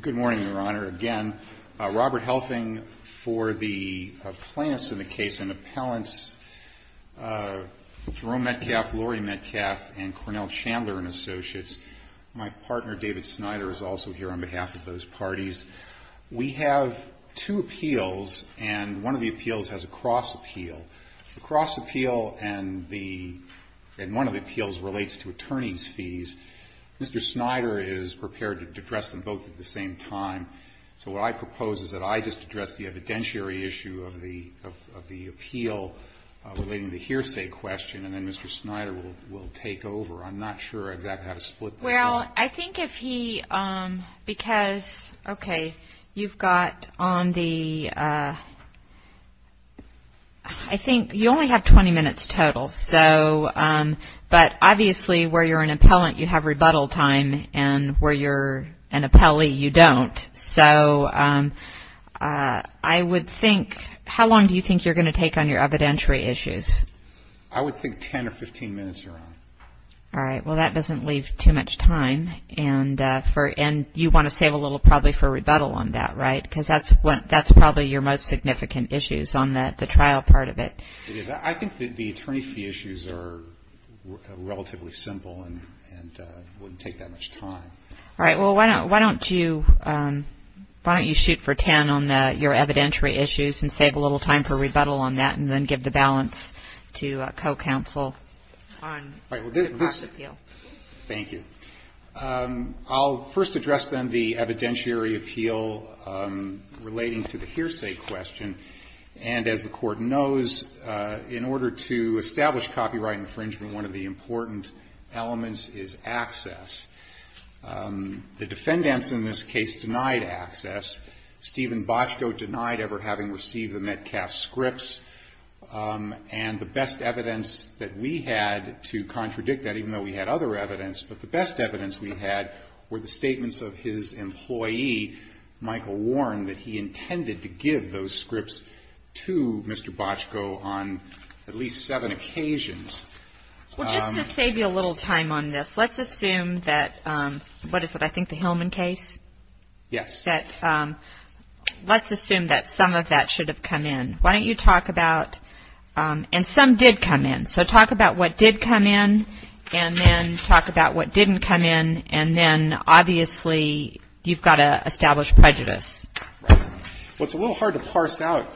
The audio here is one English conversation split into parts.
Good morning, Your Honor. Again, Robert Helfing for the plaintiffs in the case and the appellants Jerome Metcalf, Laurie Metcalf, and Cornell Chandler and associates. My partner, David Snyder, is also here on behalf of those parties. We have two appeals, and one of the appeals has a cross appeal. The cross appeal and one of the appeals relates to attorney's fees. Mr. Snyder is prepared to address them both at the same time. So what I propose is that I just address the evidentiary issue of the appeal relating to the hearsay question, and then Mr. Snyder will take over. I'm not sure exactly how to split this. Well, I think if he, because, okay, you've got on the, I think you only have 20 minutes total. So, but obviously where you're an appellant, you have rebuttal time, and where you're an appellee, you don't. So I would think, how long do you think you're going to take on your evidentiary issues? I would think 10 or 15 minutes, Your Honor. All right. Well, that doesn't leave too much time, and you want to save a little probably for rebuttal on that, right? Because that's probably your most significant issues on the trial part of it. It is. I think the attorney's fee issues are relatively simple and wouldn't take that much time. All right. Well, why don't you shoot for 10 on your evidentiary issues and save a little time for rebuttal on that, and then give the balance to co-counsel on the appeal. Thank you. I'll first address then the evidentiary appeal relating to the hearsay question. And as the Court knows, in order to establish copyright infringement, one of the important elements is access. The defendants in this case denied access. Stephen Boczko denied ever having received the Metcalf scripts. And the best evidence that we had to contradict that, even though we had other evidence, but the best evidence we had were the statements of his employee, Michael Warren, that he intended to give those scripts to Mr. Boczko on at least seven occasions. Well, just to save you a little time on this, let's assume that, what is it, I think the Hillman case? Yes. Let's assume that some of that should have come in. Why don't you talk about, and some did come in. So talk about what did come in, and then talk about what didn't come in, and then obviously you've got to establish prejudice. Right. Well, it's a little hard to parse out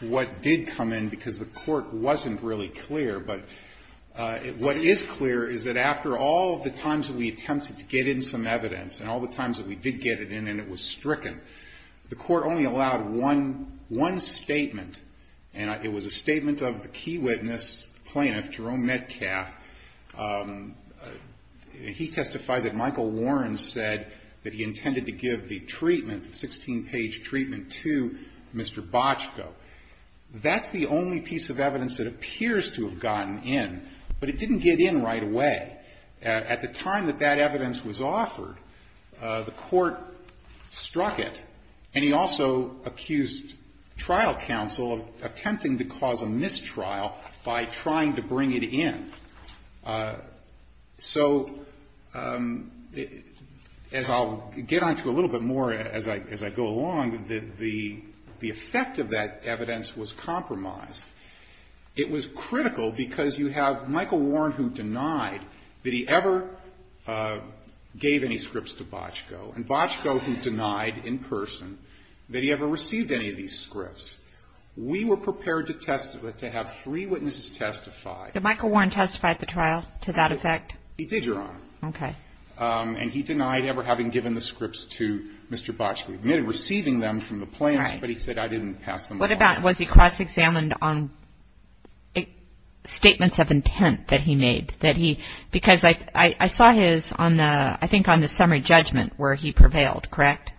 what did come in because the Court wasn't really clear. But what is clear is that after all the times that we attempted to get in some evidence, and all the times that we did get it in and it was stricken, the Court only allowed one statement, and it was a statement of the key witness plaintiff, Jerome Metcalf. He testified that Michael Warren said that he intended to give the treatment, the 16-page treatment, to Mr. Boczko. That's the only piece of evidence that appears to have gotten in, but it didn't get in right away. At the time that that evidence was offered, the Court struck it, and he also accused trial counsel of attempting to cause a mistrial by trying to bring it in. So as I'll get on to a little bit more as I go along, the effect of that evidence was compromised. It was critical because you have Michael Warren who denied that he ever gave any scripts to Boczko, and Boczko who denied in person that he ever received any of these scripts. We were prepared to testify, to have three witnesses testify. Did Michael Warren testify at the trial to that effect? He did, Your Honor. Okay. And he denied ever having given the scripts to Mr. Boczko. He admitted receiving them from the plaintiffs, but he said I didn't pass them on. What about was he cross-examined on statements of intent that he made? Because I saw his on the summary judgment where he prevailed, correct?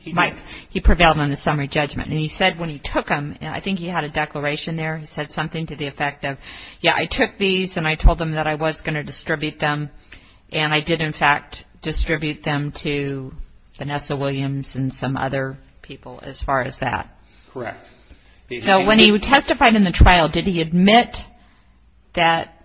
He did. He prevailed on the summary judgment. And he said when he took them, I think he had a declaration there, he said something to the effect of, yeah, I took these and I told them that I was going to distribute them, and I did in fact distribute them to Vanessa Williams and some other people as far as that. Correct. So when he testified in the trial, did he admit that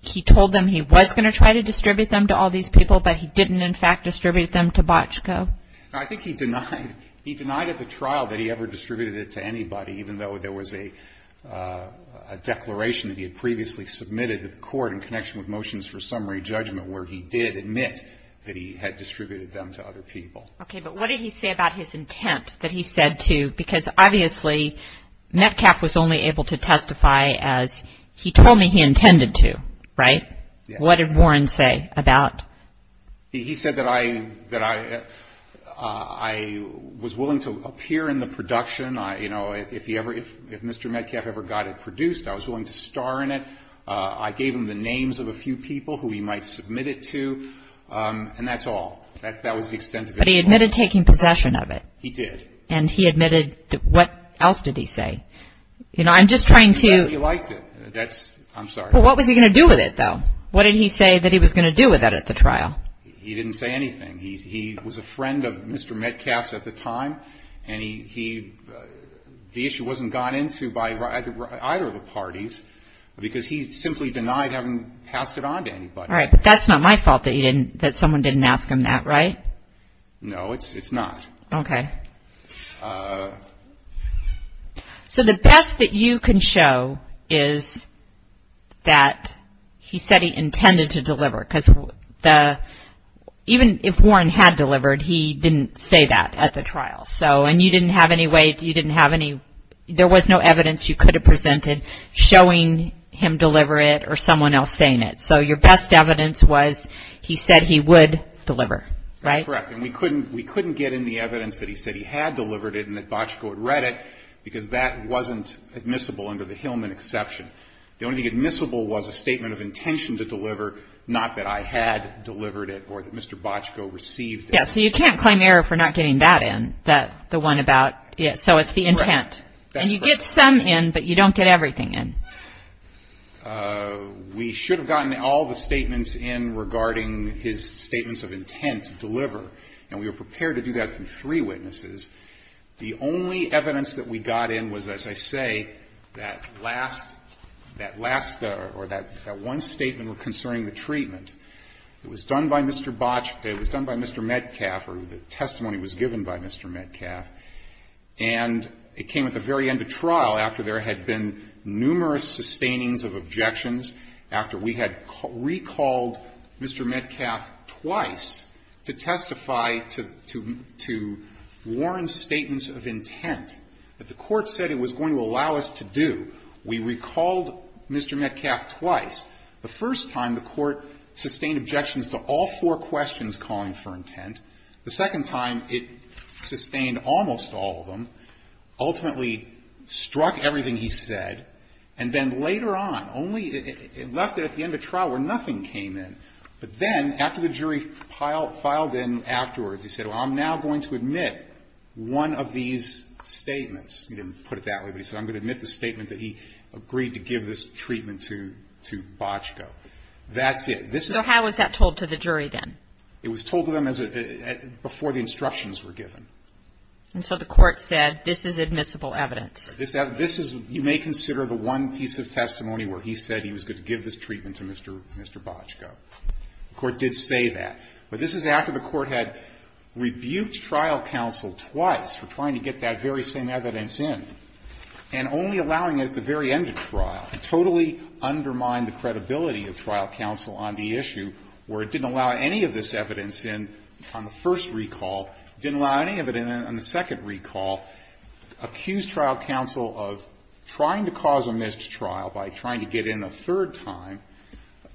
he told them he was going to try to distribute them to all these people, but he didn't in fact distribute them to Boczko? I think he denied at the trial that he ever distributed it to anybody, even though there was a declaration that he had previously submitted to the court in connection with motions for summary judgment where he did admit that he had distributed them to other people. Okay. But what did he say about his intent that he said to, because obviously Metcalfe was only able to testify as he told me he intended to, right? What did Warren say about? He said that I was willing to appear in the production. You know, if Mr. Metcalfe ever got it produced, I was willing to star in it. I gave him the names of a few people who he might submit it to, and that's all. That was the extent of it. But he admitted taking possession of it. He did. And he admitted, what else did he say? You know, I'm just trying to. He said he liked it. That's, I'm sorry. Well, what was he going to do with it, though? What did he say that he was going to do with it at the trial? He didn't say anything. He was a friend of Mr. Metcalfe's at the time, and he, All right, but that's not my fault that you didn't, that someone didn't ask him that, right? No, it's not. Okay. So the best that you can show is that he said he intended to deliver, because the, even if Warren had delivered, he didn't say that at the trial. So, and you didn't have any way, you didn't have any, there was no evidence you could have presented showing him deliver it or someone else saying it. So your best evidence was he said he would deliver, right? That's correct. And we couldn't get in the evidence that he said he had delivered it and that Bochco had read it, because that wasn't admissible under the Hillman exception. The only thing admissible was a statement of intention to deliver, not that I had delivered it or that Mr. Bochco received it. Yeah, so you can't claim error for not getting that in, the one about, so it's the intent. That's correct. And you get some in, but you don't get everything in. We should have gotten all the statements in regarding his statements of intent to deliver, and we were prepared to do that from three witnesses. The only evidence that we got in was, as I say, that last, that last or that one statement concerning the treatment. It was done by Mr. Bochco. It was done by Mr. Metcalf, or the testimony was given by Mr. Metcalf. And it came at the very end of trial, after there had been numerous sustainings of objections, after we had recalled Mr. Metcalf twice to testify to Warren's statements of intent that the Court said it was going to allow us to do. We recalled Mr. Metcalf twice. The first time, the Court sustained objections to all four questions calling for intent. The second time, it sustained almost all of them, ultimately struck everything he said, and then later on, only it left it at the end of trial where nothing came in. But then, after the jury filed in afterwards, he said, well, I'm now going to admit one of these statements. He didn't put it that way, but he said, I'm going to admit the statement that he agreed to give this treatment to Bochco. That's it. So how was that told to the jury then? It was told to them as a – before the instructions were given. And so the Court said, this is admissible evidence. This is – you may consider the one piece of testimony where he said he was going to give this treatment to Mr. Bochco. The Court did say that. But this is after the Court had rebuked trial counsel twice for trying to get that very same evidence in, and only allowing it at the very end of trial. It totally undermined the credibility of trial counsel on the issue where it didn't allow any of this evidence in on the first recall, didn't allow any of it in on the second recall, accused trial counsel of trying to cause a missed trial by trying to get in a third time,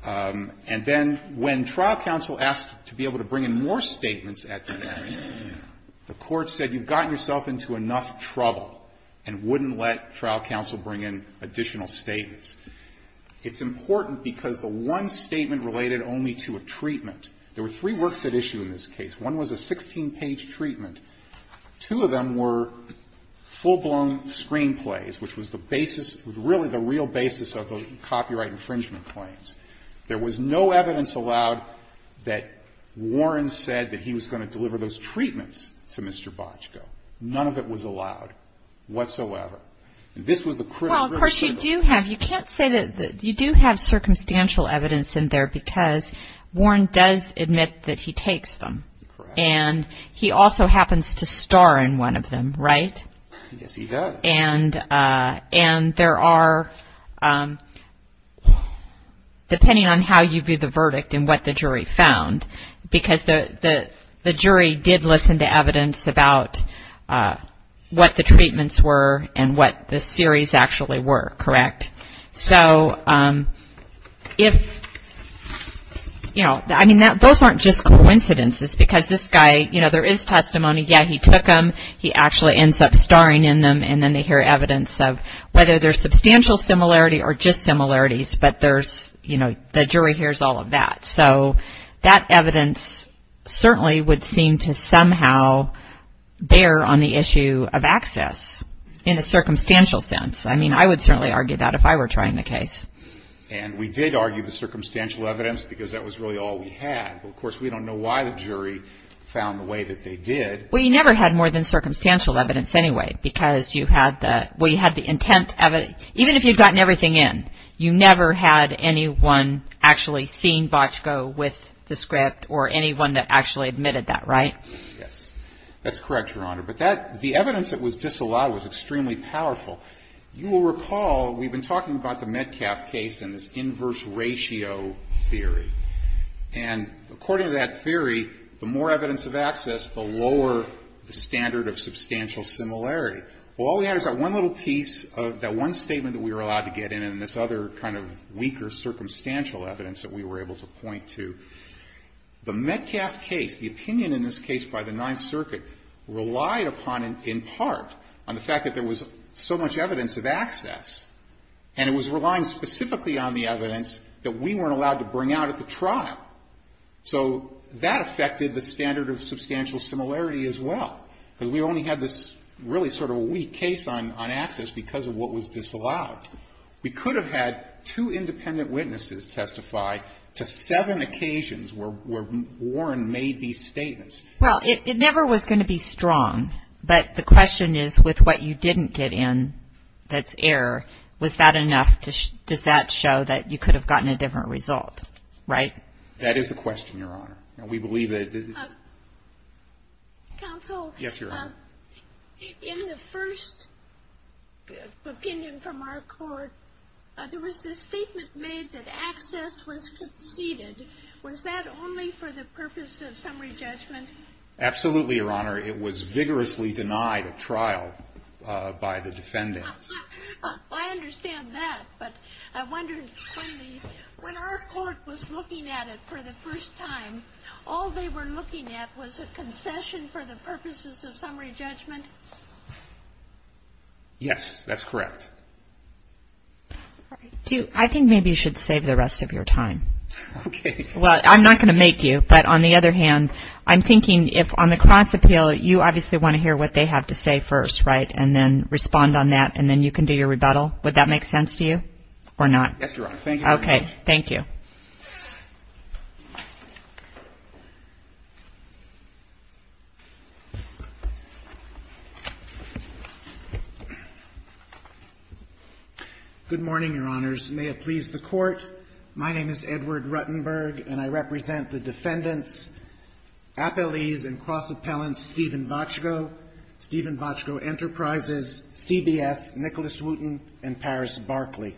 and then when trial counsel asked to be able to bring in more statements at the end, the Court said you've gotten yourself into enough trouble and wouldn't let trial counsel bring in additional statements. It's important because the one statement related only to a treatment. There were three works at issue in this case. One was a 16-page treatment. Two of them were full-blown screenplays, which was the basis, really the real basis of the copyright infringement claims. There was no evidence allowed that Warren said that he was going to deliver those treatments to Mr. Bochco. None of it was allowed whatsoever. Well, of course you do have. You can't say that you do have circumstantial evidence in there because Warren does admit that he takes them. Correct. And he also happens to star in one of them, right? Yes, he does. And there are, depending on how you view the verdict and what the jury found, because the jury did listen to evidence about what the treatments were and what the series actually were, correct? So if, you know, I mean, those aren't just coincidences because this guy, you know, there is testimony, yeah, he took them. He actually ends up starring in them, and then they hear evidence of whether there's substantial similarity or just similarities, but there's, you know, the jury hears all of that. So that evidence certainly would seem to somehow bear on the issue of access in a circumstantial sense. I mean, I would certainly argue that if I were trying the case. And we did argue the circumstantial evidence because that was really all we had. Of course, we don't know why the jury found the way that they did. Well, you never had more than circumstantial evidence anyway because you had the intent of it. Even if you had gotten everything in, you never had anyone actually seeing Botchko with the script or anyone that actually admitted that, right? Yes. That's correct, Your Honor. But the evidence that was disallowed was extremely powerful. You will recall we've been talking about the Metcalf case and this inverse ratio theory. And according to that theory, the more evidence of access, the lower the standard of substantial similarity. Well, all we had is that one little piece of that one statement that we were allowed to get in and this other kind of weaker circumstantial evidence that we were able to point to. The Metcalf case, the opinion in this case by the Ninth Circuit relied upon in part on the fact that there was so much evidence of access. And it was relying specifically on the evidence that we weren't allowed to bring out at the trial. So that affected the standard of substantial similarity as well, because we only had this really sort of weak case on access because of what was disallowed. We could have had two independent witnesses testify to seven occasions where Warren made these statements. Well, it never was going to be strong. But the question is with what you didn't get in that's error, was that enough? Does that show that you could have gotten a different result, right? That is the question, Your Honor. And we believe that it did. Counsel. Yes, Your Honor. In the first opinion from our court, there was this statement made that access was conceded. Was that only for the purpose of summary judgment? Absolutely, Your Honor. It was vigorously denied at trial by the defendants. I understand that. But I wonder, when our court was looking at it for the first time, all they were looking at was a concession for the purposes of summary judgment? Yes, that's correct. I think maybe you should save the rest of your time. Okay. Well, I'm not going to make you, but on the other hand, I'm thinking if on the cross appeal, you obviously want to hear what they have to say first, right, and then respond on that, and then you can do your rebuttal. Would that make sense to you or not? Yes, Your Honor. Thank you very much. Okay. Thank you. Good morning, Your Honors. May it please the Court. My name is Edward Ruttenberg, and I represent the defendants, appellees and cross appellants Stephen Boczko, Stephen Boczko Enterprises, CBS, Nicholas Wooten, and Paris Barkley.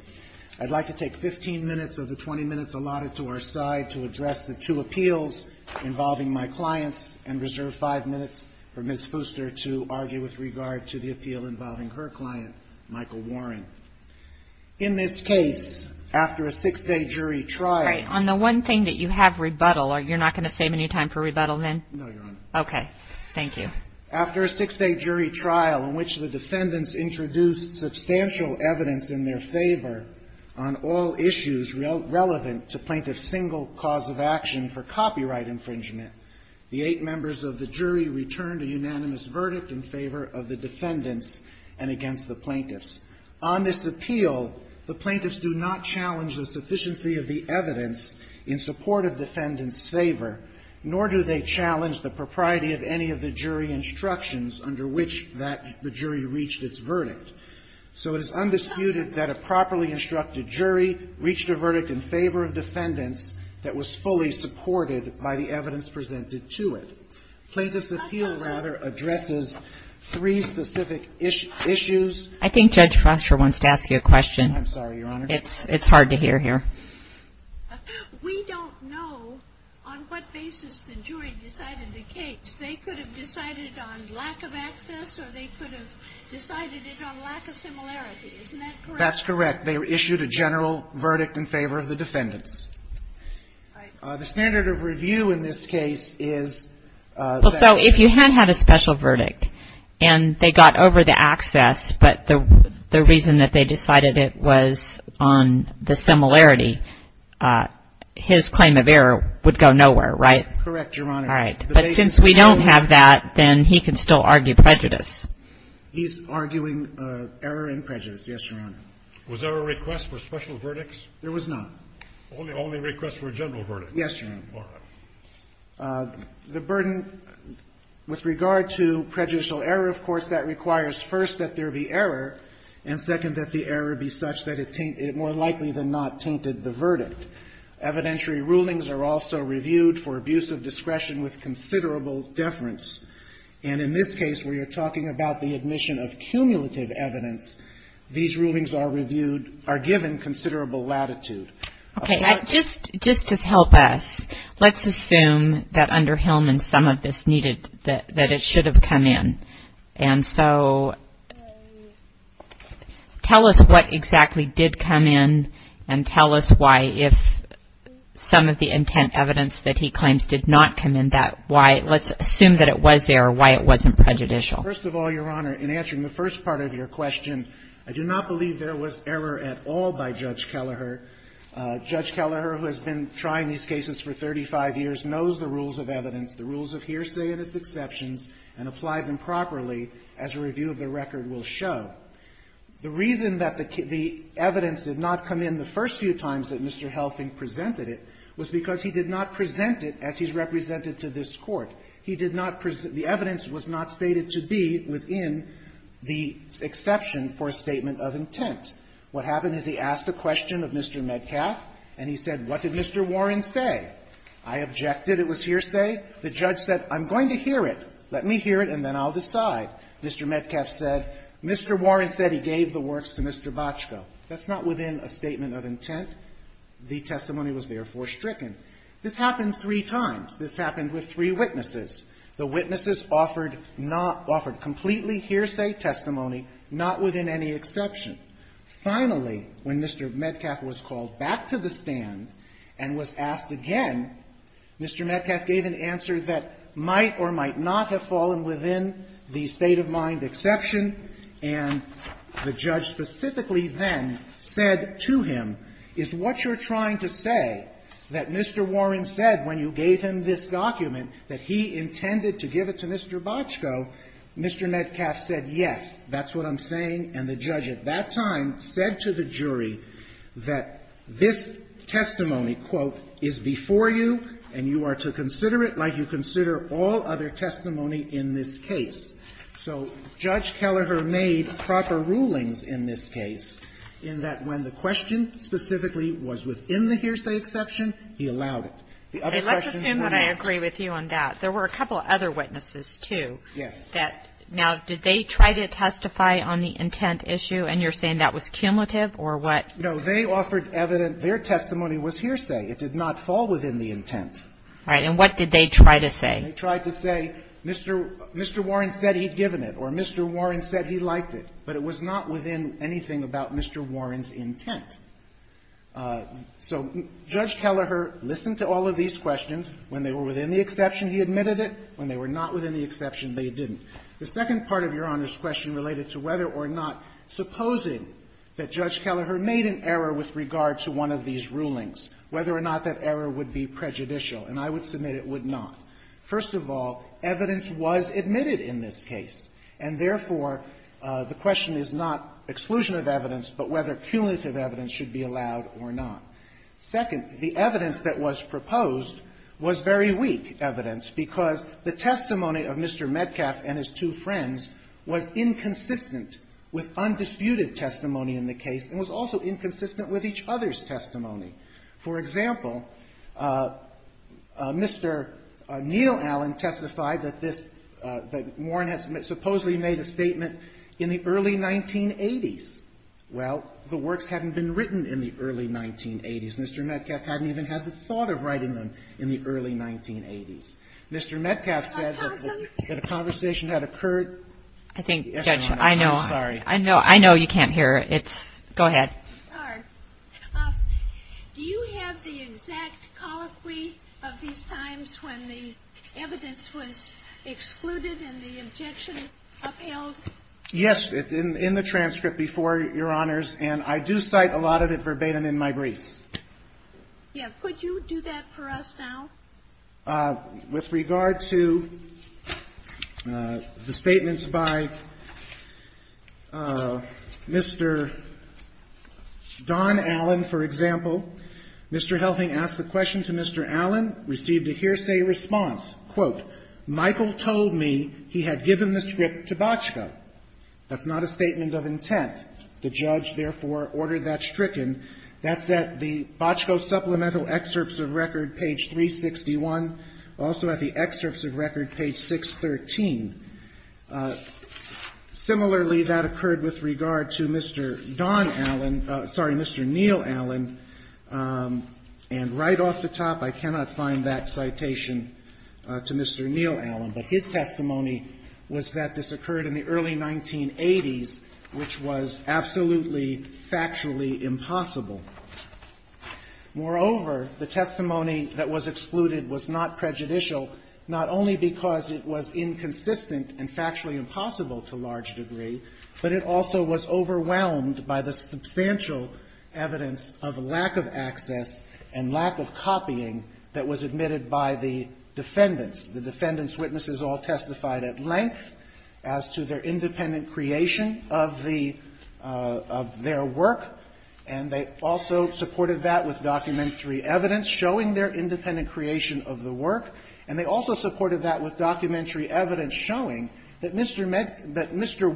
I'd like to take 15 minutes of the 20 minutes allotted to our side to address the two appeals involving my clients, and reserve five minutes for Ms. Fooster to argue with regard to the appeal involving her client, Michael Warren. In this case, after a six-day jury trial. Right. On the one thing that you have rebuttal, you're not going to save any time for rebuttal, then? No, Your Honor. Okay. Thank you. After a six-day jury trial in which the defendants introduced substantial evidence in their favor on all issues relevant to plaintiff's single cause of action for copyright infringement, the eight members of the jury returned a unanimous verdict in favor of the defendants and against the plaintiffs. On this appeal, the plaintiffs do not challenge the sufficiency of the evidence in support of defendants' favor, nor do they challenge the propriety of any of the jury instructions under which that the jury reached its verdict. So it is undisputed that a properly instructed jury reached a verdict in favor of defendants that was fully supported by the evidence presented to it. Plaintiff's appeal, rather, addresses three specific issues. I think Judge Foster wants to ask you a question. I'm sorry, Your Honor. It's hard to hear here. We don't know on what basis the jury decided the case. They could have decided it on lack of access, or they could have decided it on lack of similarity. Isn't that correct? That's correct. They issued a general verdict in favor of the defendants. The standard of review in this case is that the defendant had a special verdict and they got over the access, but the reason that they decided it was on the similarity, his claim of error would go nowhere, right? Correct, Your Honor. All right. But since we don't have that, then he can still argue prejudice. He's arguing error and prejudice, yes, Your Honor. Was there a request for special verdicts? There was not. Only requests for a general verdict? Yes, Your Honor. All right. The burden with regard to prejudicial error, of course, that requires first that there be error, and second, that the error be such that it more likely than not tainted the verdict. Evidentiary rulings are also reviewed for abuse of discretion with considerable deference. And in this case, where you're talking about the admission of cumulative evidence, these rulings are reviewed, are given considerable latitude. Okay. Now, just to help us, let's assume that under Hillman, some of this needed, that it should have come in. And so tell us what exactly did come in, and tell us why, if some of the intent evidence that he claims did not come in, that why, let's assume that it was there, why it wasn't prejudicial. First of all, Your Honor, in answering the first part of your question, I do not believe there was error at all by Judge Kelleher. Judge Kelleher, who has been trying these cases for 35 years, knows the rules of The reason that the evidence did not come in the first few times that Mr. Helping presented it was because he did not present it as he's represented to this Court. He did not present the evidence was not stated to be within the exception for a statement of intent. What happened is he asked a question of Mr. Metcalf, and he said, what did Mr. Warren say? I objected. It was hearsay. The judge said, I'm going to hear it. Let me hear it, and then I'll decide. Mr. Metcalf said, Mr. Warren said he gave the works to Mr. Botchko. That's not within a statement of intent. The testimony was therefore stricken. This happened three times. This happened with three witnesses. The witnesses offered not – offered completely hearsay testimony, not within any exception. Finally, when Mr. Metcalf was called back to the stand and was asked again, Mr. Metcalf said, yes, that's what I'm saying, and the judge at that time said to the jury that this testimony, quote, is before you, and you are to consider it like you in this case. So Judge Kelleher made proper rulings in this case in that when the question specifically was within the hearsay exception, he allowed it. The other questions were not. Kagan. Let's assume that I agree with you on that. There were a couple of other witnesses, too. Yes. Now, did they try to testify on the intent issue, and you're saying that was cumulative or what? No. They offered evidence. Their testimony was hearsay. It did not fall within the intent. All right. And what did they try to say? They tried to say, Mr. Warren said he'd given it, or Mr. Warren said he liked it. But it was not within anything about Mr. Warren's intent. So Judge Kelleher listened to all of these questions. When they were within the exception, he admitted it. When they were not within the exception, they didn't. The second part of Your Honor's question related to whether or not, supposing that Judge Kelleher made an error with regard to one of these rulings, whether or not that error would be prejudicial, and I would submit it would not. First of all, evidence was admitted in this case. And therefore, the question is not exclusion of evidence, but whether cumulative evidence should be allowed or not. Second, the evidence that was proposed was very weak evidence, because the testimony of Mr. Metcalf and his two friends was inconsistent with undisputed testimony in the case and was also inconsistent with each other's testimony. For example, Mr. Neal Allen testified that this, that Warren had supposedly made a statement in the early 1980s. Well, the works hadn't been written in the early 1980s. Mr. Metcalf hadn't even had the thought of writing them in the early 1980s. Mr. Metcalf said that a conversation had occurred. I think, Judge, I know, I know, I know you can't hear. It's, go ahead. It's hard. Do you have the exact colloquy of these times when the evidence was excluded and the objection upheld? Yes, in the transcript before, Your Honors, and I do cite a lot of it verbatim in my briefs. Yeah. Could you do that for us now? With regard to the Don Allen, for example, Mr. Helping asked the question to Mr. Allen, received a hearsay response, quote, Michael told me he had given the script to Boczko. That's not a statement of intent. The judge, therefore, ordered that stricken. That's at the Boczko Supplemental Excerpts of Record, page 361, also at the Excerpts of Record, page 613. Similarly, that occurred with regard to Mr. Don Allen. Sorry, Mr. Neil Allen. And right off the top, I cannot find that citation to Mr. Neil Allen, but his testimony was that this occurred in the early 1980s, which was absolutely factually impossible. Moreover, the testimony that was excluded was not prejudicial not only because it was inconsistent and factually impossible to a large degree, but it also was overwhelmed by the substantial evidence of lack of access and lack of copying that was admitted by the defendants. The defendants' witnesses all testified at length as to their independent creation of the of their work, and they also supported that with documentary evidence showing their independent creation of the work. And they also supported that with documentary evidence showing that Mr.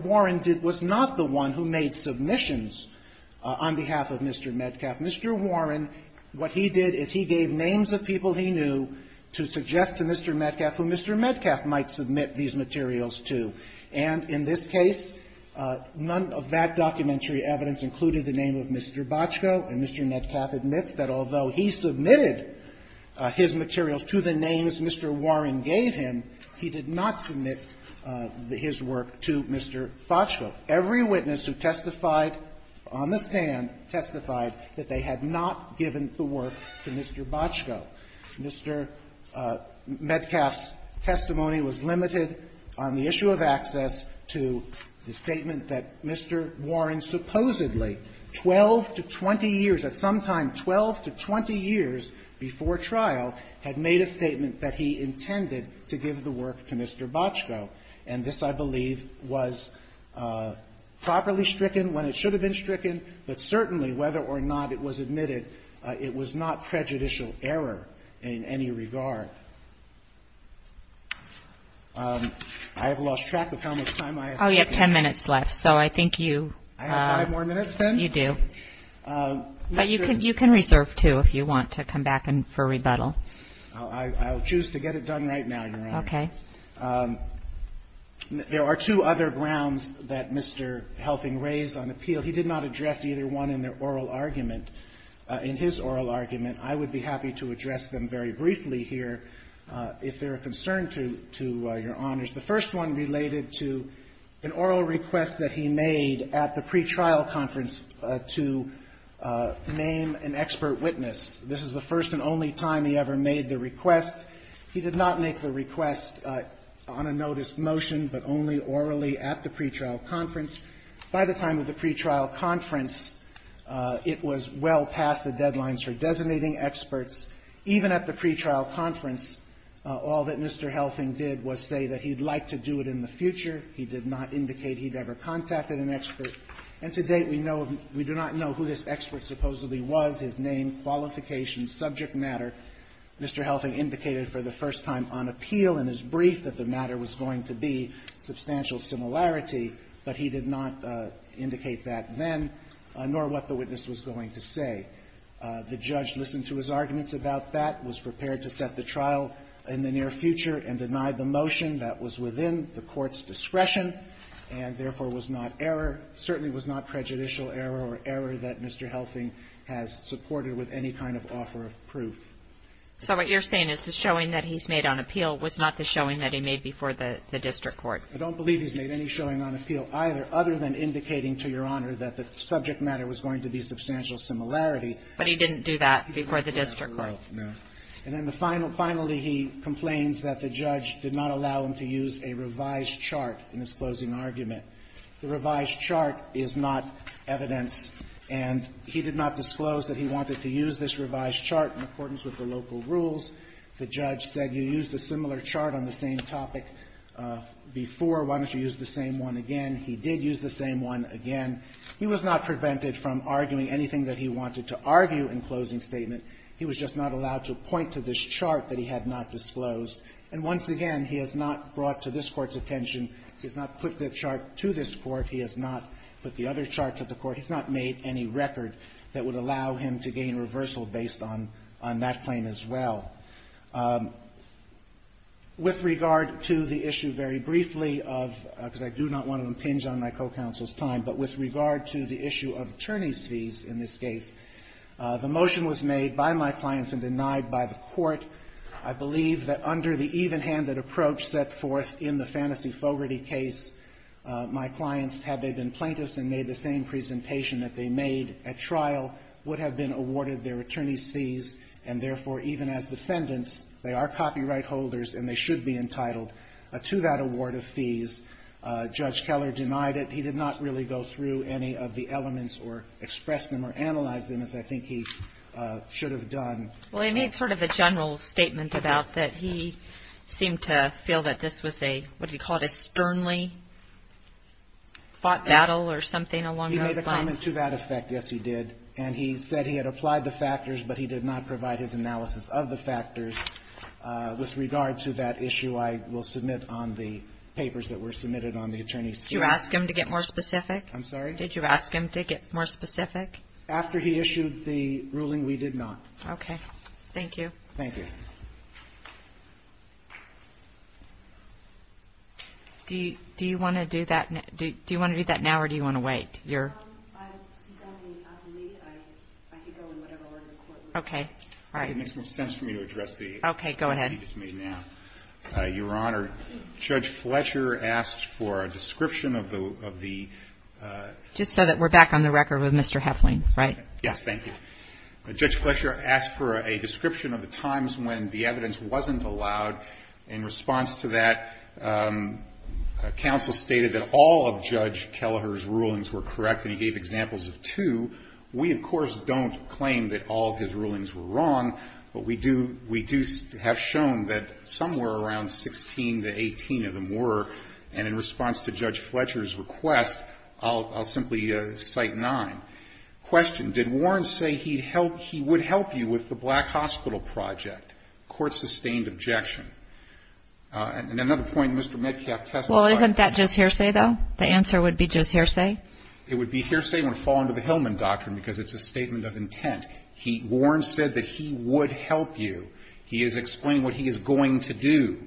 Warren was not the one who made submissions on behalf of Mr. Metcalf. Mr. Warren, what he did is he gave names of people he knew to suggest to Mr. Metcalf who Mr. Metcalf might submit these materials to. And in this case, none of that documentary evidence included the name of Mr. Boczko, and Mr. Metcalf admits that although he submitted his materials to the names Mr. Warren gave him, he did not submit his work to Mr. Boczko. Every witness who testified on the stand testified that they had not given the work to Mr. Boczko. Mr. Metcalf's testimony was limited on the issue of access to the statement that Mr. Warren supposedly 12 to 20 years, at some time 12 to 20 years before trial, had made a statement that he intended to give the work to Mr. Boczko. And this, I believe, was properly stricken when it should have been stricken, but certainly, whether or not it was admitted, it was not prejudicial error in any regard. I have lost track of how much time I have. Oh, you have ten minutes left, so I think you... I have five more minutes then? You do. Mr. But you can reserve two if you want to come back for rebuttal. I will choose to get it done right now, Your Honor. Okay. There are two other grounds that Mr. Helping raised on appeal. He did not address either one in their oral argument, in his oral argument. I would be happy to address them very briefly here if they are a concern to your honors. The first one related to an oral request that he made at the pretrial conference to name an expert witness. This is the first and only time he ever made the request. He did not make the request on a notice motion, but only orally at the pretrial conference. By the time of the pretrial conference, it was well past the deadlines for designating experts. Even at the pretrial conference, all that Mr. Helping did was say that he'd like to do it in the future. He did not indicate he'd ever contacted an expert. And to date, we know of — we do not know who this expert supposedly was, his name, qualifications, subject matter. Mr. Helping indicated for the first time on appeal in his brief that the matter was going to be substantial similarity, but he did not do his arguments about that, was prepared to set the trial in the near future, and denied the motion that was within the Court's discretion, and therefore was not error, certainly was not prejudicial error or error that Mr. Helping has supported with any kind of offer of proof. So what you're saying is the showing that he's made on appeal was not the showing that he made before the district court. I don't believe he's made any showing on appeal either, other than indicating to Your Honor that the subject matter was going to be substantial similarity. But he didn't do that before the district court. No. And then the final — finally, he complains that the judge did not allow him to use a revised chart in his closing argument. The revised chart is not evidence. And he did not disclose that he wanted to use this revised chart in accordance with the local rules. The judge said, you used a similar chart on the same topic before, why don't you use the same one again. He did use the same one again. He was not prevented from arguing anything that he wanted to argue in closing statement. He was just not allowed to point to this chart that he had not disclosed. And once again, he has not brought to this Court's attention, he has not put the chart to this Court, he has not put the other chart to the Court. He's not made any record that would allow him to gain reversal based on that claim as well. With regard to the issue, very briefly, of — because I do not want to impinge on my co-counsel's time, but with regard to the issue of attorney's fees in this case, the motion was made by my clients and denied by the Court. I believe that under the evenhanded approach set forth in the Fantasy Fogarty case, my clients, had they been plaintiffs and made the same presentation that they made at trial, would have been awarded their attorney's fees, and therefore, even as defendants, they are copyright holders and they should be entitled to that award of fees. Judge Keller denied it. He did not really go through any of the elements or express them or analyze them, as I think he should have done. Well, he made sort of a general statement about that he seemed to feel that this was a, what did he call it, a sternly fought battle or something along those lines. He made a comment to that effect, yes, he did. And he said he had applied the factors, but he did not provide his analysis of the factors. With regard to that issue, I will submit on the papers that were submitted on the attorney's fees. Did you ask him to get more specific? I'm sorry? Did you ask him to get more specific? After he issued the ruling, we did not. Okay. Thank you. Thank you. Do you want to do that now or do you want to wait? Since I'm being appellee, I could go in whatever order the Court would like. Okay. All right. It makes more sense for me to address the question you just made now. Okay. Go ahead. Your Honor, Judge Fletcher asked for a description of the ---- Just so that we're back on the record with Mr. Heflin, right? Yes. Thank you. Judge Fletcher asked for a description of the times when the evidence wasn't In response to that, counsel stated that all of Judge Kelleher's rulings were correct, and he gave examples of two. We, of course, don't claim that all of his rulings were wrong, but we do have shown that somewhere around 16 to 18 of them were. And in response to Judge Fletcher's request, I'll simply cite nine. Question. Did Warren say he would help you with the Black Hospital Project? Court sustained objection. And another point, Mr. Metcalf testified ---- Well, isn't that just hearsay, though? The answer would be just hearsay? It would be hearsay and would fall under the Hillman Doctrine because it's a statement of intent. Warren said that he would help you. He is explaining what he is going to do.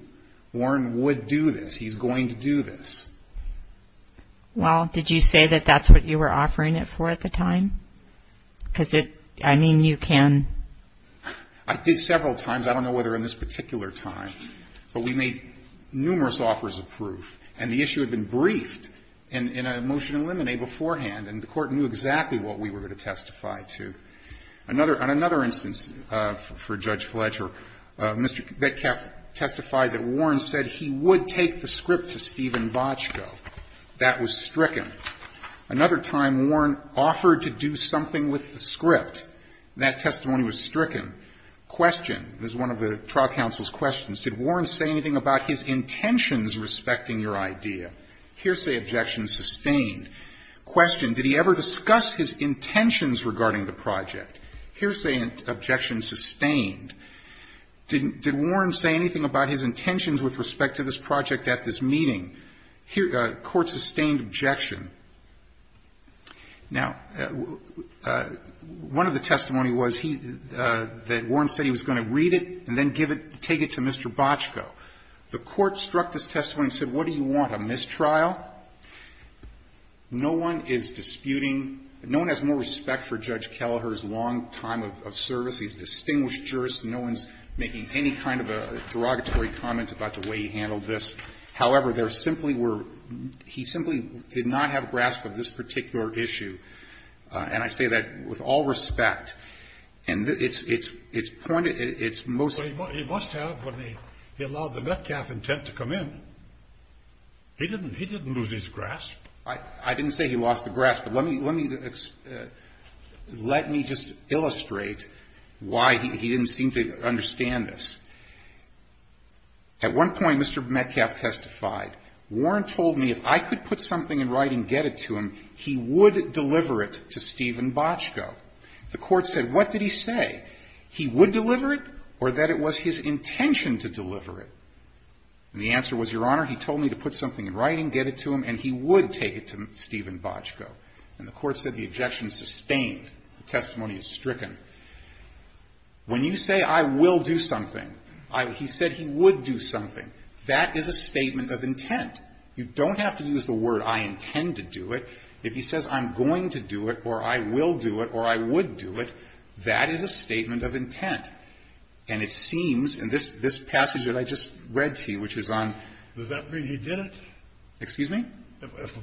Warren would do this. He's going to do this. Well, did you say that that's what you were offering it for at the time? Because it ---- I mean, you can ---- I did several times. I don't know whether in this particular time. But we made numerous offers of proof. And the issue had been briefed in a motion in limine beforehand, and the Court knew exactly what we were going to testify to. Another ---- on another instance for Judge Fletcher, Mr. Metcalf testified that Warren said he would take the script to Stephen Bochco. That was stricken. Another time, Warren offered to do something with the script. That testimony was stricken. Question. This is one of the trial counsel's questions. Did Warren say anything about his intentions respecting your idea? Here say objections sustained. Question. Did he ever discuss his intentions regarding the project? Here say objections sustained. Did Warren say anything about his intentions with respect to this project at this meeting? Court sustained objection. Now, one of the testimony was he ---- that Warren said he was going to read it and then give it ---- take it to Mr. Bochco. The Court struck this testimony and said, what do you want, a mistrial? No one is disputing ---- no one has more respect for Judge Kelleher's long time of service. He's a distinguished jurist. No one's making any kind of a derogatory comment about the way he handled this. However, there simply were ---- he simply did not have a grasp of this particular And I say that with all respect. And it's pointed ---- it's most ---- He must have when he allowed the Metcalfe intent to come in. He didn't lose his grasp. I didn't say he lost the grasp. But let me just illustrate why he didn't seem to understand this. At one point, Mr. Metcalfe testified, Warren told me if I could put something in writing, get it to him, he would deliver it to Stephen Bochco. The Court said, what did he say? He would deliver it or that it was his intention to deliver it? And the answer was, Your Honor, he told me to put something in writing, get it to him, and he would take it to Stephen Bochco. And the Court said the objection is sustained. The testimony is stricken. When you say I will do something, he said he would do something. That is a statement of intent. You don't have to use the word I intend to do it. If he says I'm going to do it or I will do it or I would do it, that is a statement of intent. And it seems in this passage that I just read to you, which is on ---- Does that mean he did it? Excuse me?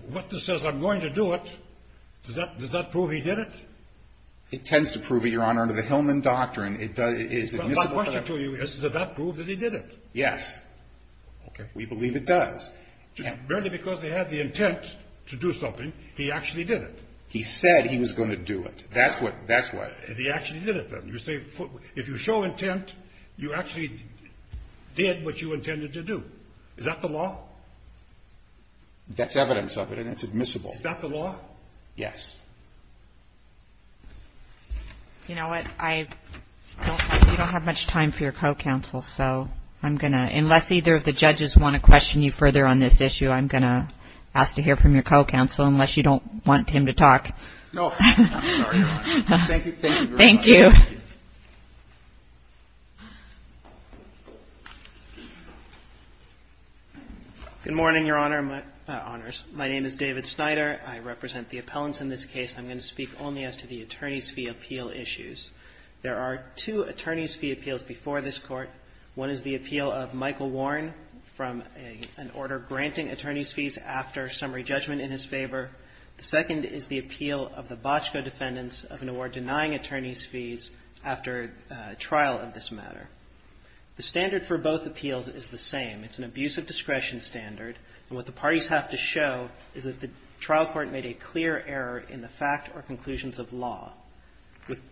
What says I'm going to do it, does that prove he did it? It tends to prove it, Your Honor, under the Hillman doctrine. It is admissible ---- My question to you is, does that prove that he did it? Yes. Okay. We believe it does. Barely because they had the intent to do something, he actually did it. He said he was going to do it. That's what ---- He actually did it, then. You say if you show intent, you actually did what you intended to do. Is that the law? That's evidence of it, and it's admissible. Is that the law? Yes. You know what? I don't have much time for your co-counsel, so I'm going to ---- Unless either of the judges want to question you further on this issue, I'm going to ask to hear from your co-counsel, unless you don't want him to talk. No. I'm sorry, Your Honor. Thank you. Thank you, Your Honor. Thank you. Good morning, Your Honor, my ---- Honors. My name is David Snyder. I represent the appellants in this case. I'm going to speak only as to the attorney's fee appeal issues. There are two attorney's fee appeals before this Court. One is the appeal of Michael Warren from an order granting attorney's fees after summary judgment in his favor. The second is the appeal of the Bochco defendants of an award denying attorney's fees after trial of this matter. The standard for both appeals is the same. It's an abuse of discretion standard, and what the parties have to show is that the trial court made a clear error in the fact or conclusions of law.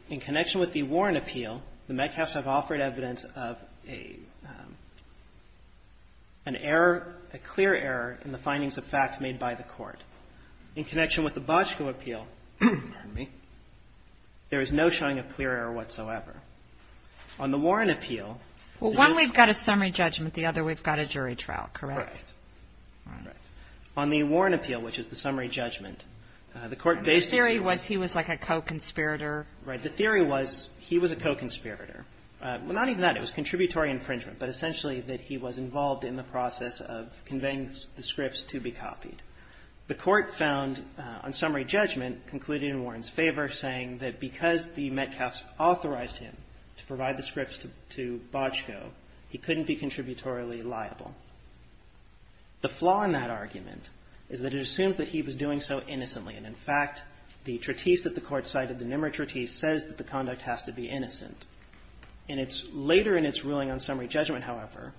In connection with the Warren appeal, the Metcalfs have offered evidence of an error, a clear error in the findings of fact made by the court. In connection with the Bochco appeal, pardon me, there is no showing of clear error whatsoever. On the Warren appeal ---- Well, one, we've got a summary judgment. The other, we've got a jury trial, correct? Correct. On the Warren appeal, which is the summary judgment, the court ---- The theory was he was like a co-conspirator. Right. The theory was he was a co-conspirator. Well, not even that. It was contributory infringement, but essentially that he was involved in the process of conveying the scripts to be copied. The court found on summary judgment concluded in Warren's favor saying that because the Metcalfs authorized him to provide the scripts to Bochco, he couldn't be contributorily liable. The flaw in that argument is that it assumes that he was doing so innocently, and in fact, the treatise that the Court cited, the Nimmer treatise, says that the conduct has to be innocent. And it's later in its ruling on summary judgment, however,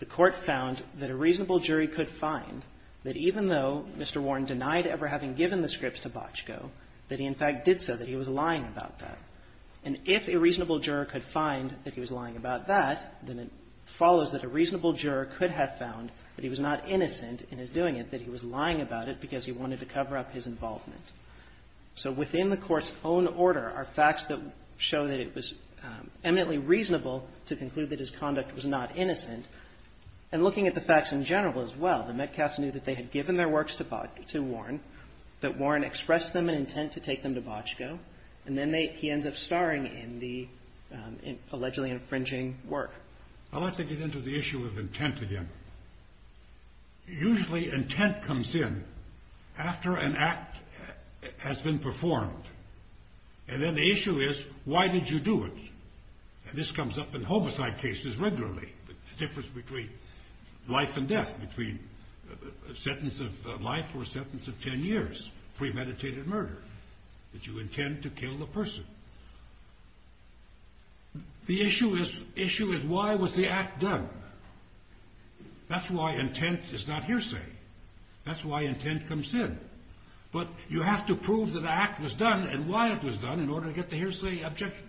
the Court found that a reasonable jury could find that even though Mr. Warren denied ever having given the scripts to Bochco, that he in fact did so, that he was lying about that. And if a reasonable juror could find that he was lying about that, then it follows that a reasonable juror could have found that he was not innocent in his doing it, that he was lying about it because he wanted to cover up his involvement. So within the Court's own order are facts that show that it was eminently reasonable to conclude that his conduct was not innocent. And looking at the facts in general as well, the Metcalfs knew that they had given their works to Warren, that Warren expressed to them an intent to take them to Bochco, and then he ends up starring in the allegedly infringing work. I'd like to get into the issue of intent again. Usually intent comes in after an act has been performed. And then the issue is, why did you do it? And this comes up in homicide cases regularly, the difference between life and death, between a sentence of life or a sentence of ten years, premeditated murder, that you intend to kill the person. The issue is, why was the act done? That's why intent is not hearsay. That's why intent comes in. But you have to prove that an act was done and why it was done in order to get the hearsay objection.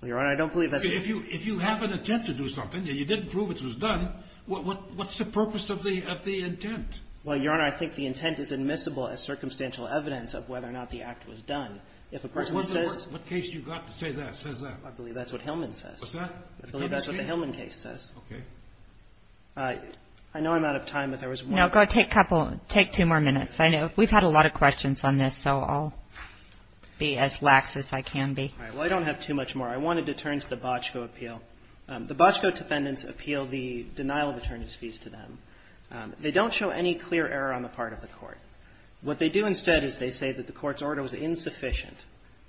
Well, Your Honor, I don't believe that's... If you have an intent to do something and you didn't prove it was done, what's the purpose of the intent? Well, Your Honor, I think the intent is admissible as circumstantial evidence of whether or not the act was done. If a person says... What case do you got to say that, says that? I believe that's what Hillman says. What's that? I believe that's what the Hillman case says. Okay. I know I'm out of time, but there was one... No, go take two more minutes. We've had a lot of questions on this, so I'll be as lax as I can be. All right. Well, I don't have too much more. I wanted to turn to the Bochco appeal. The Bochco defendants appeal the denial of attorneys' fees to them. They don't show any clear error on the part of the court. What they do instead is they say that the court's order was insufficient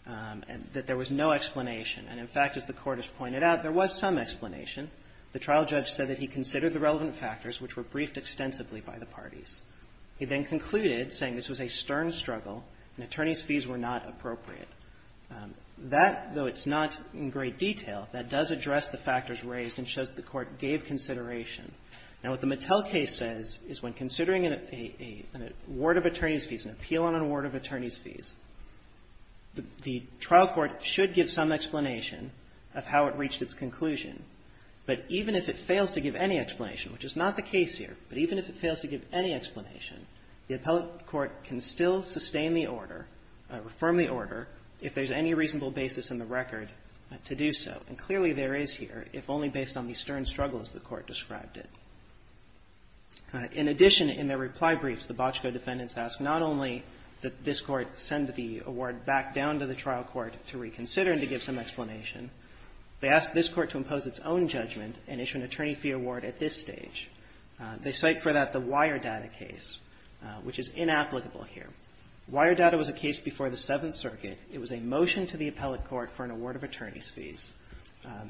and that there was no explanation. And, in fact, as the court has pointed out, there was some explanation. The trial judge said that he considered the relevant factors, which were briefed extensively by the parties. He then concluded, saying this was a stern struggle and attorneys' fees were not appropriate. That, though it's not in great detail, that does address the factors raised and shows that the court gave consideration. Now, what the Mattel case says is when considering an award of attorneys' fees, an appeal on an award of attorneys' fees, the trial court should give some explanation of how it reached its conclusion. But even if it fails to give any explanation, which is not the case here, but even if it fails to give any explanation, the appellate court can still sustain the order or affirm the order if there's any reasonable basis in the record to do so. And clearly there is here, if only based on the stern struggle as the court described it. In addition, in their reply briefs, the Bochco defendants ask not only that this court send the award back down to the trial court to reconsider and to give some explanation, they ask this court to impose its own judgment and issue an attorney fee award at this stage. They cite for that the Wiredata case, which is inapplicable here. Wiredata was a case before the Seventh Circuit. It was a motion to the appellate court for an award of attorneys' fees.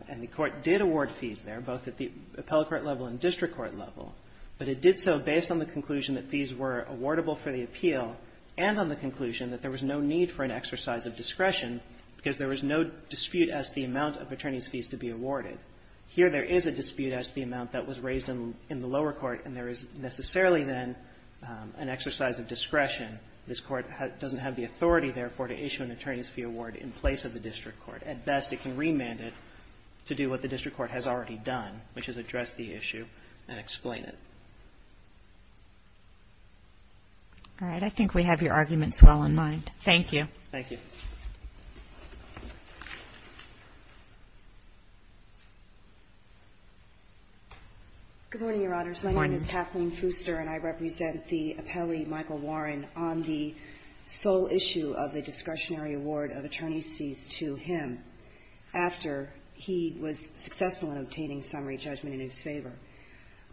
And the court did award fees there, both at the appellate court level and district court level, but it did so based on the conclusion that fees were awardable for the appeal and on the conclusion that there was no need for an exercise of discretion because there was no dispute as to the amount of attorneys' fees to be awarded. Here there is a dispute as to the amount that was raised in the lower court, and there is necessarily then an exercise of discretion. This court doesn't have the authority, therefore, to issue an attorney's fee award in place of the district court. At best, it can remand it to do what the district court has already done, which is address the issue and explain it. All right. I think we have your arguments well in mind. Thank you. Thank you. Good morning, Your Honors. My name is Kathleen Fuster, and I represent the appellee Michael Warren on the sole issue of the discretionary award of attorneys' fees to him after he was successful in obtaining summary judgment in his favor.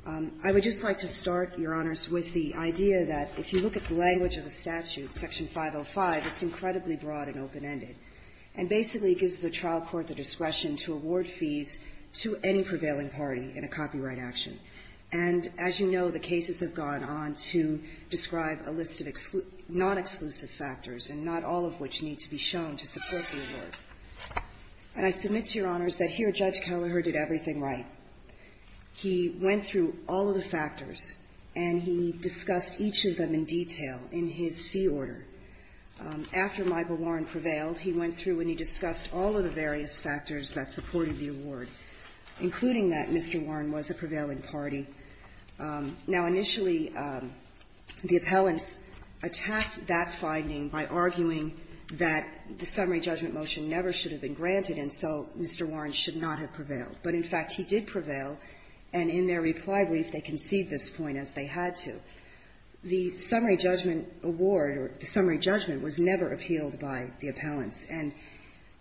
I would just like to start, Your Honors, with the idea that if you look at the language of the statute, Section 505, it's incredibly broad and open-ended and basically gives the trial court the discretion to award fees to any prevailing party in a copyright action. And as you know, the cases have gone on to describe a list of non-exclusive factors, and not all of which need to be shown to support the award. And I submit to Your Honors that here Judge Kelleher did everything right. He went through all of the factors, and he discussed each of them in detail in his fee order. After Michael Warren prevailed, he went through and he discussed all of the various non-exclusive factors that supported the award, including that Mr. Warren was a prevailing party. Now, initially, the appellants attacked that finding by arguing that the summary judgment motion never should have been granted, and so Mr. Warren should not have prevailed. But, in fact, he did prevail, and in their reply brief, they conceded this point as they had to. The summary judgment award or the summary judgment was never appealed by the appellants. And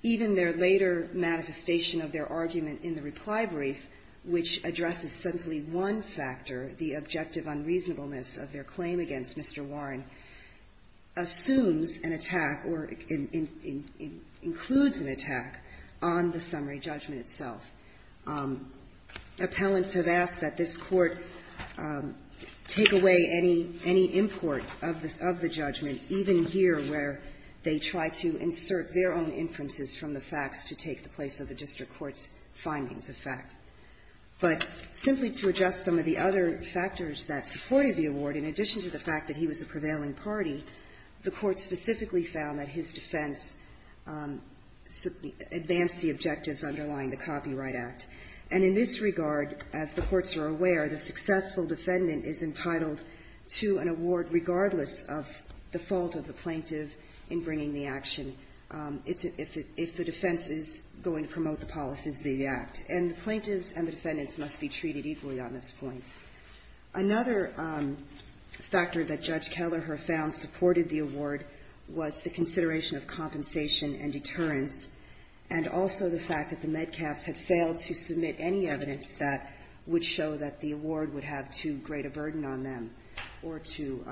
even their later manifestation of their argument in the reply brief, which addresses simply one factor, the objective unreasonableness of their claim against Mr. Warren, assumes an attack or includes an attack on the summary judgment itself. Appellants have asked that this Court take away any import of the judgment, even here where they try to insert their own inferences from the facts to take the place of the district court's findings of fact. But simply to address some of the other factors that supported the award, in addition to the fact that he was a prevailing party, the Court specifically found that his defense advanced the objectives underlying the Copyright Act. And in this regard, as the courts are aware, the successful defendant is entitled to an award regardless of the fault of the plaintiff in bringing the action if the defense is going to promote the policies of the Act. And the plaintiffs and the defendants must be treated equally on this point. Another factor that Judge Kelleher found supported the award was the consideration of compensation and deterrence, and also the fact that the Metcalfs had failed to submit any evidence that would show that the award would have too great a burden on them or to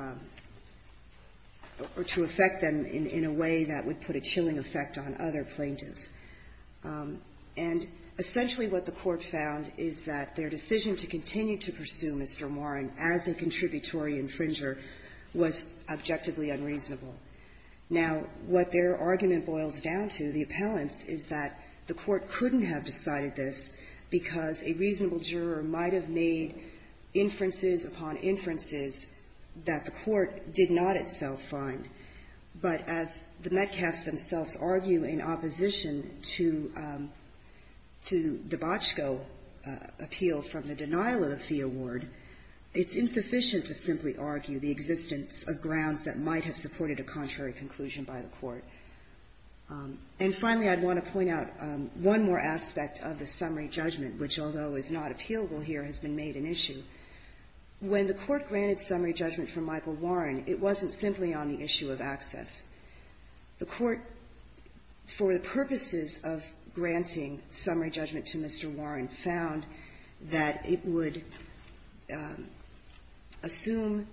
affect them in a way that would put a chilling effect on other plaintiffs. And essentially what the Court found is that their decision to continue to pursue Mr. Warren as a contributory infringer was objectively unreasonable. Now, what their argument boils down to, the appellants, is that the Court couldn't have decided this because a reasonable juror might have made inferences upon inferences that the Court did not itself find. But as the Metcalfs themselves argue in opposition to the Bochco appeal from the denial of the fee award, it's insufficient to simply argue the existence of grounds that might have supported a contrary conclusion by the Court. And finally, I'd want to point out one more aspect of the summary judgment, which, although is not appealable here, has been made an issue. When the Court granted summary judgment for Michael Warren, it wasn't simply on the issue of access. The Court, for the purposes of granting summary judgment to Mr. Warren, found that it would assume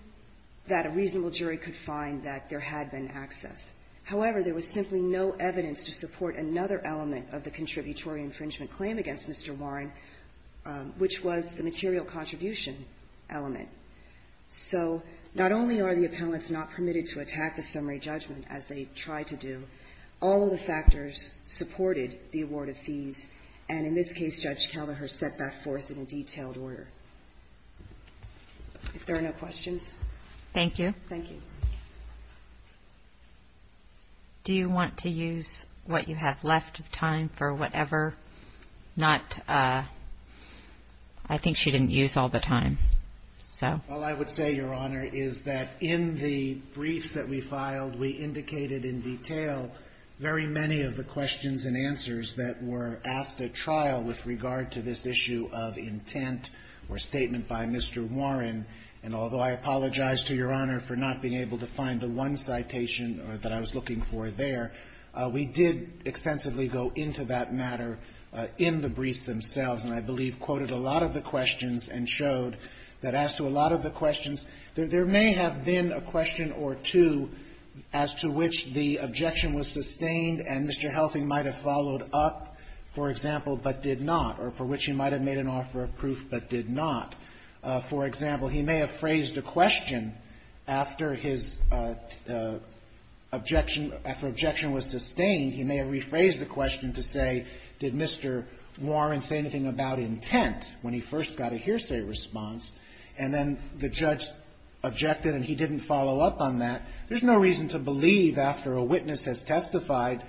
that a reasonable jury could find that there had been access. However, there was simply no evidence to support another element of the contributory infringement claim against Mr. Warren, which was the material contribution element. So not only are the appellants not permitted to attack the summary judgment as they try to do, all of the factors supported the award of fees. And in this case, Judge Kelleher set that forth in a detailed order. If there are no questions. Kagan. Thank you. Thank you. Do you want to use what you have left of time for whatever? Not – I think she didn't use all the time, so. All I would say, Your Honor, is that in the briefs that we filed, we indicated in detail very many of the questions and answers that were asked at trial with regard to this issue of intent or statement by Mr. Warren. And although I apologize to Your Honor for not being able to find the one citation that I was looking for there, we did extensively go into that matter in the briefs themselves, and I believe quoted a lot of the questions and showed that as to a lot of the questions, there may have been a question or two as to which the objection was sustained and Mr. Helping might have followed up, for example, but did not, or for which he might have made an offer of proof but did not. For example, he may have phrased a question after his objection – after objection was sustained, he may have rephrased the question to say, did Mr. Warren say anything about intent when he first got a hearsay response, and then the judge objected and he didn't follow up on that. There's no reason to believe after a witness has testified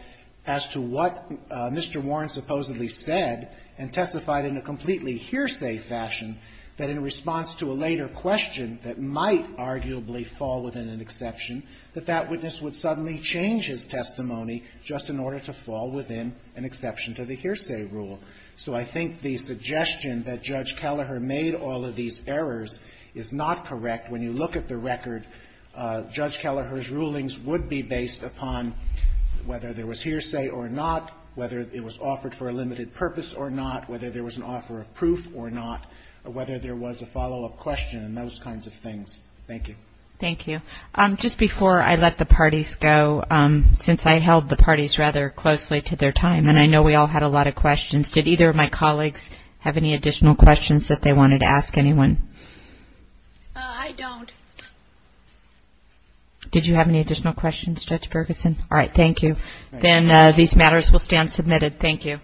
as to what Mr. Warren supposedly said and testified in a completely hearsay fashion, that in response to a later question that might arguably fall within an exception, that that witness would suddenly change his testimony just in order to fall within an exception to the hearsay rule. So I think the suggestion that Judge Kelleher made all of these errors is not correct. When you look at the record, Judge Kelleher's rulings would be based upon whether there was hearsay or not, whether it was offered for a limited purpose or not, whether there was an offer of proof or not, whether there was a follow-up question and those kinds of things. Thank you. Thank you. Just before I let the parties go, since I held the parties rather closely to their time and I know we all had a lot of questions, did either of my colleagues have any additional questions that they wanted to ask anyone? I don't. Did you have any additional questions, Judge Ferguson? All right, thank you. Then these matters will stand submitted. Thank you.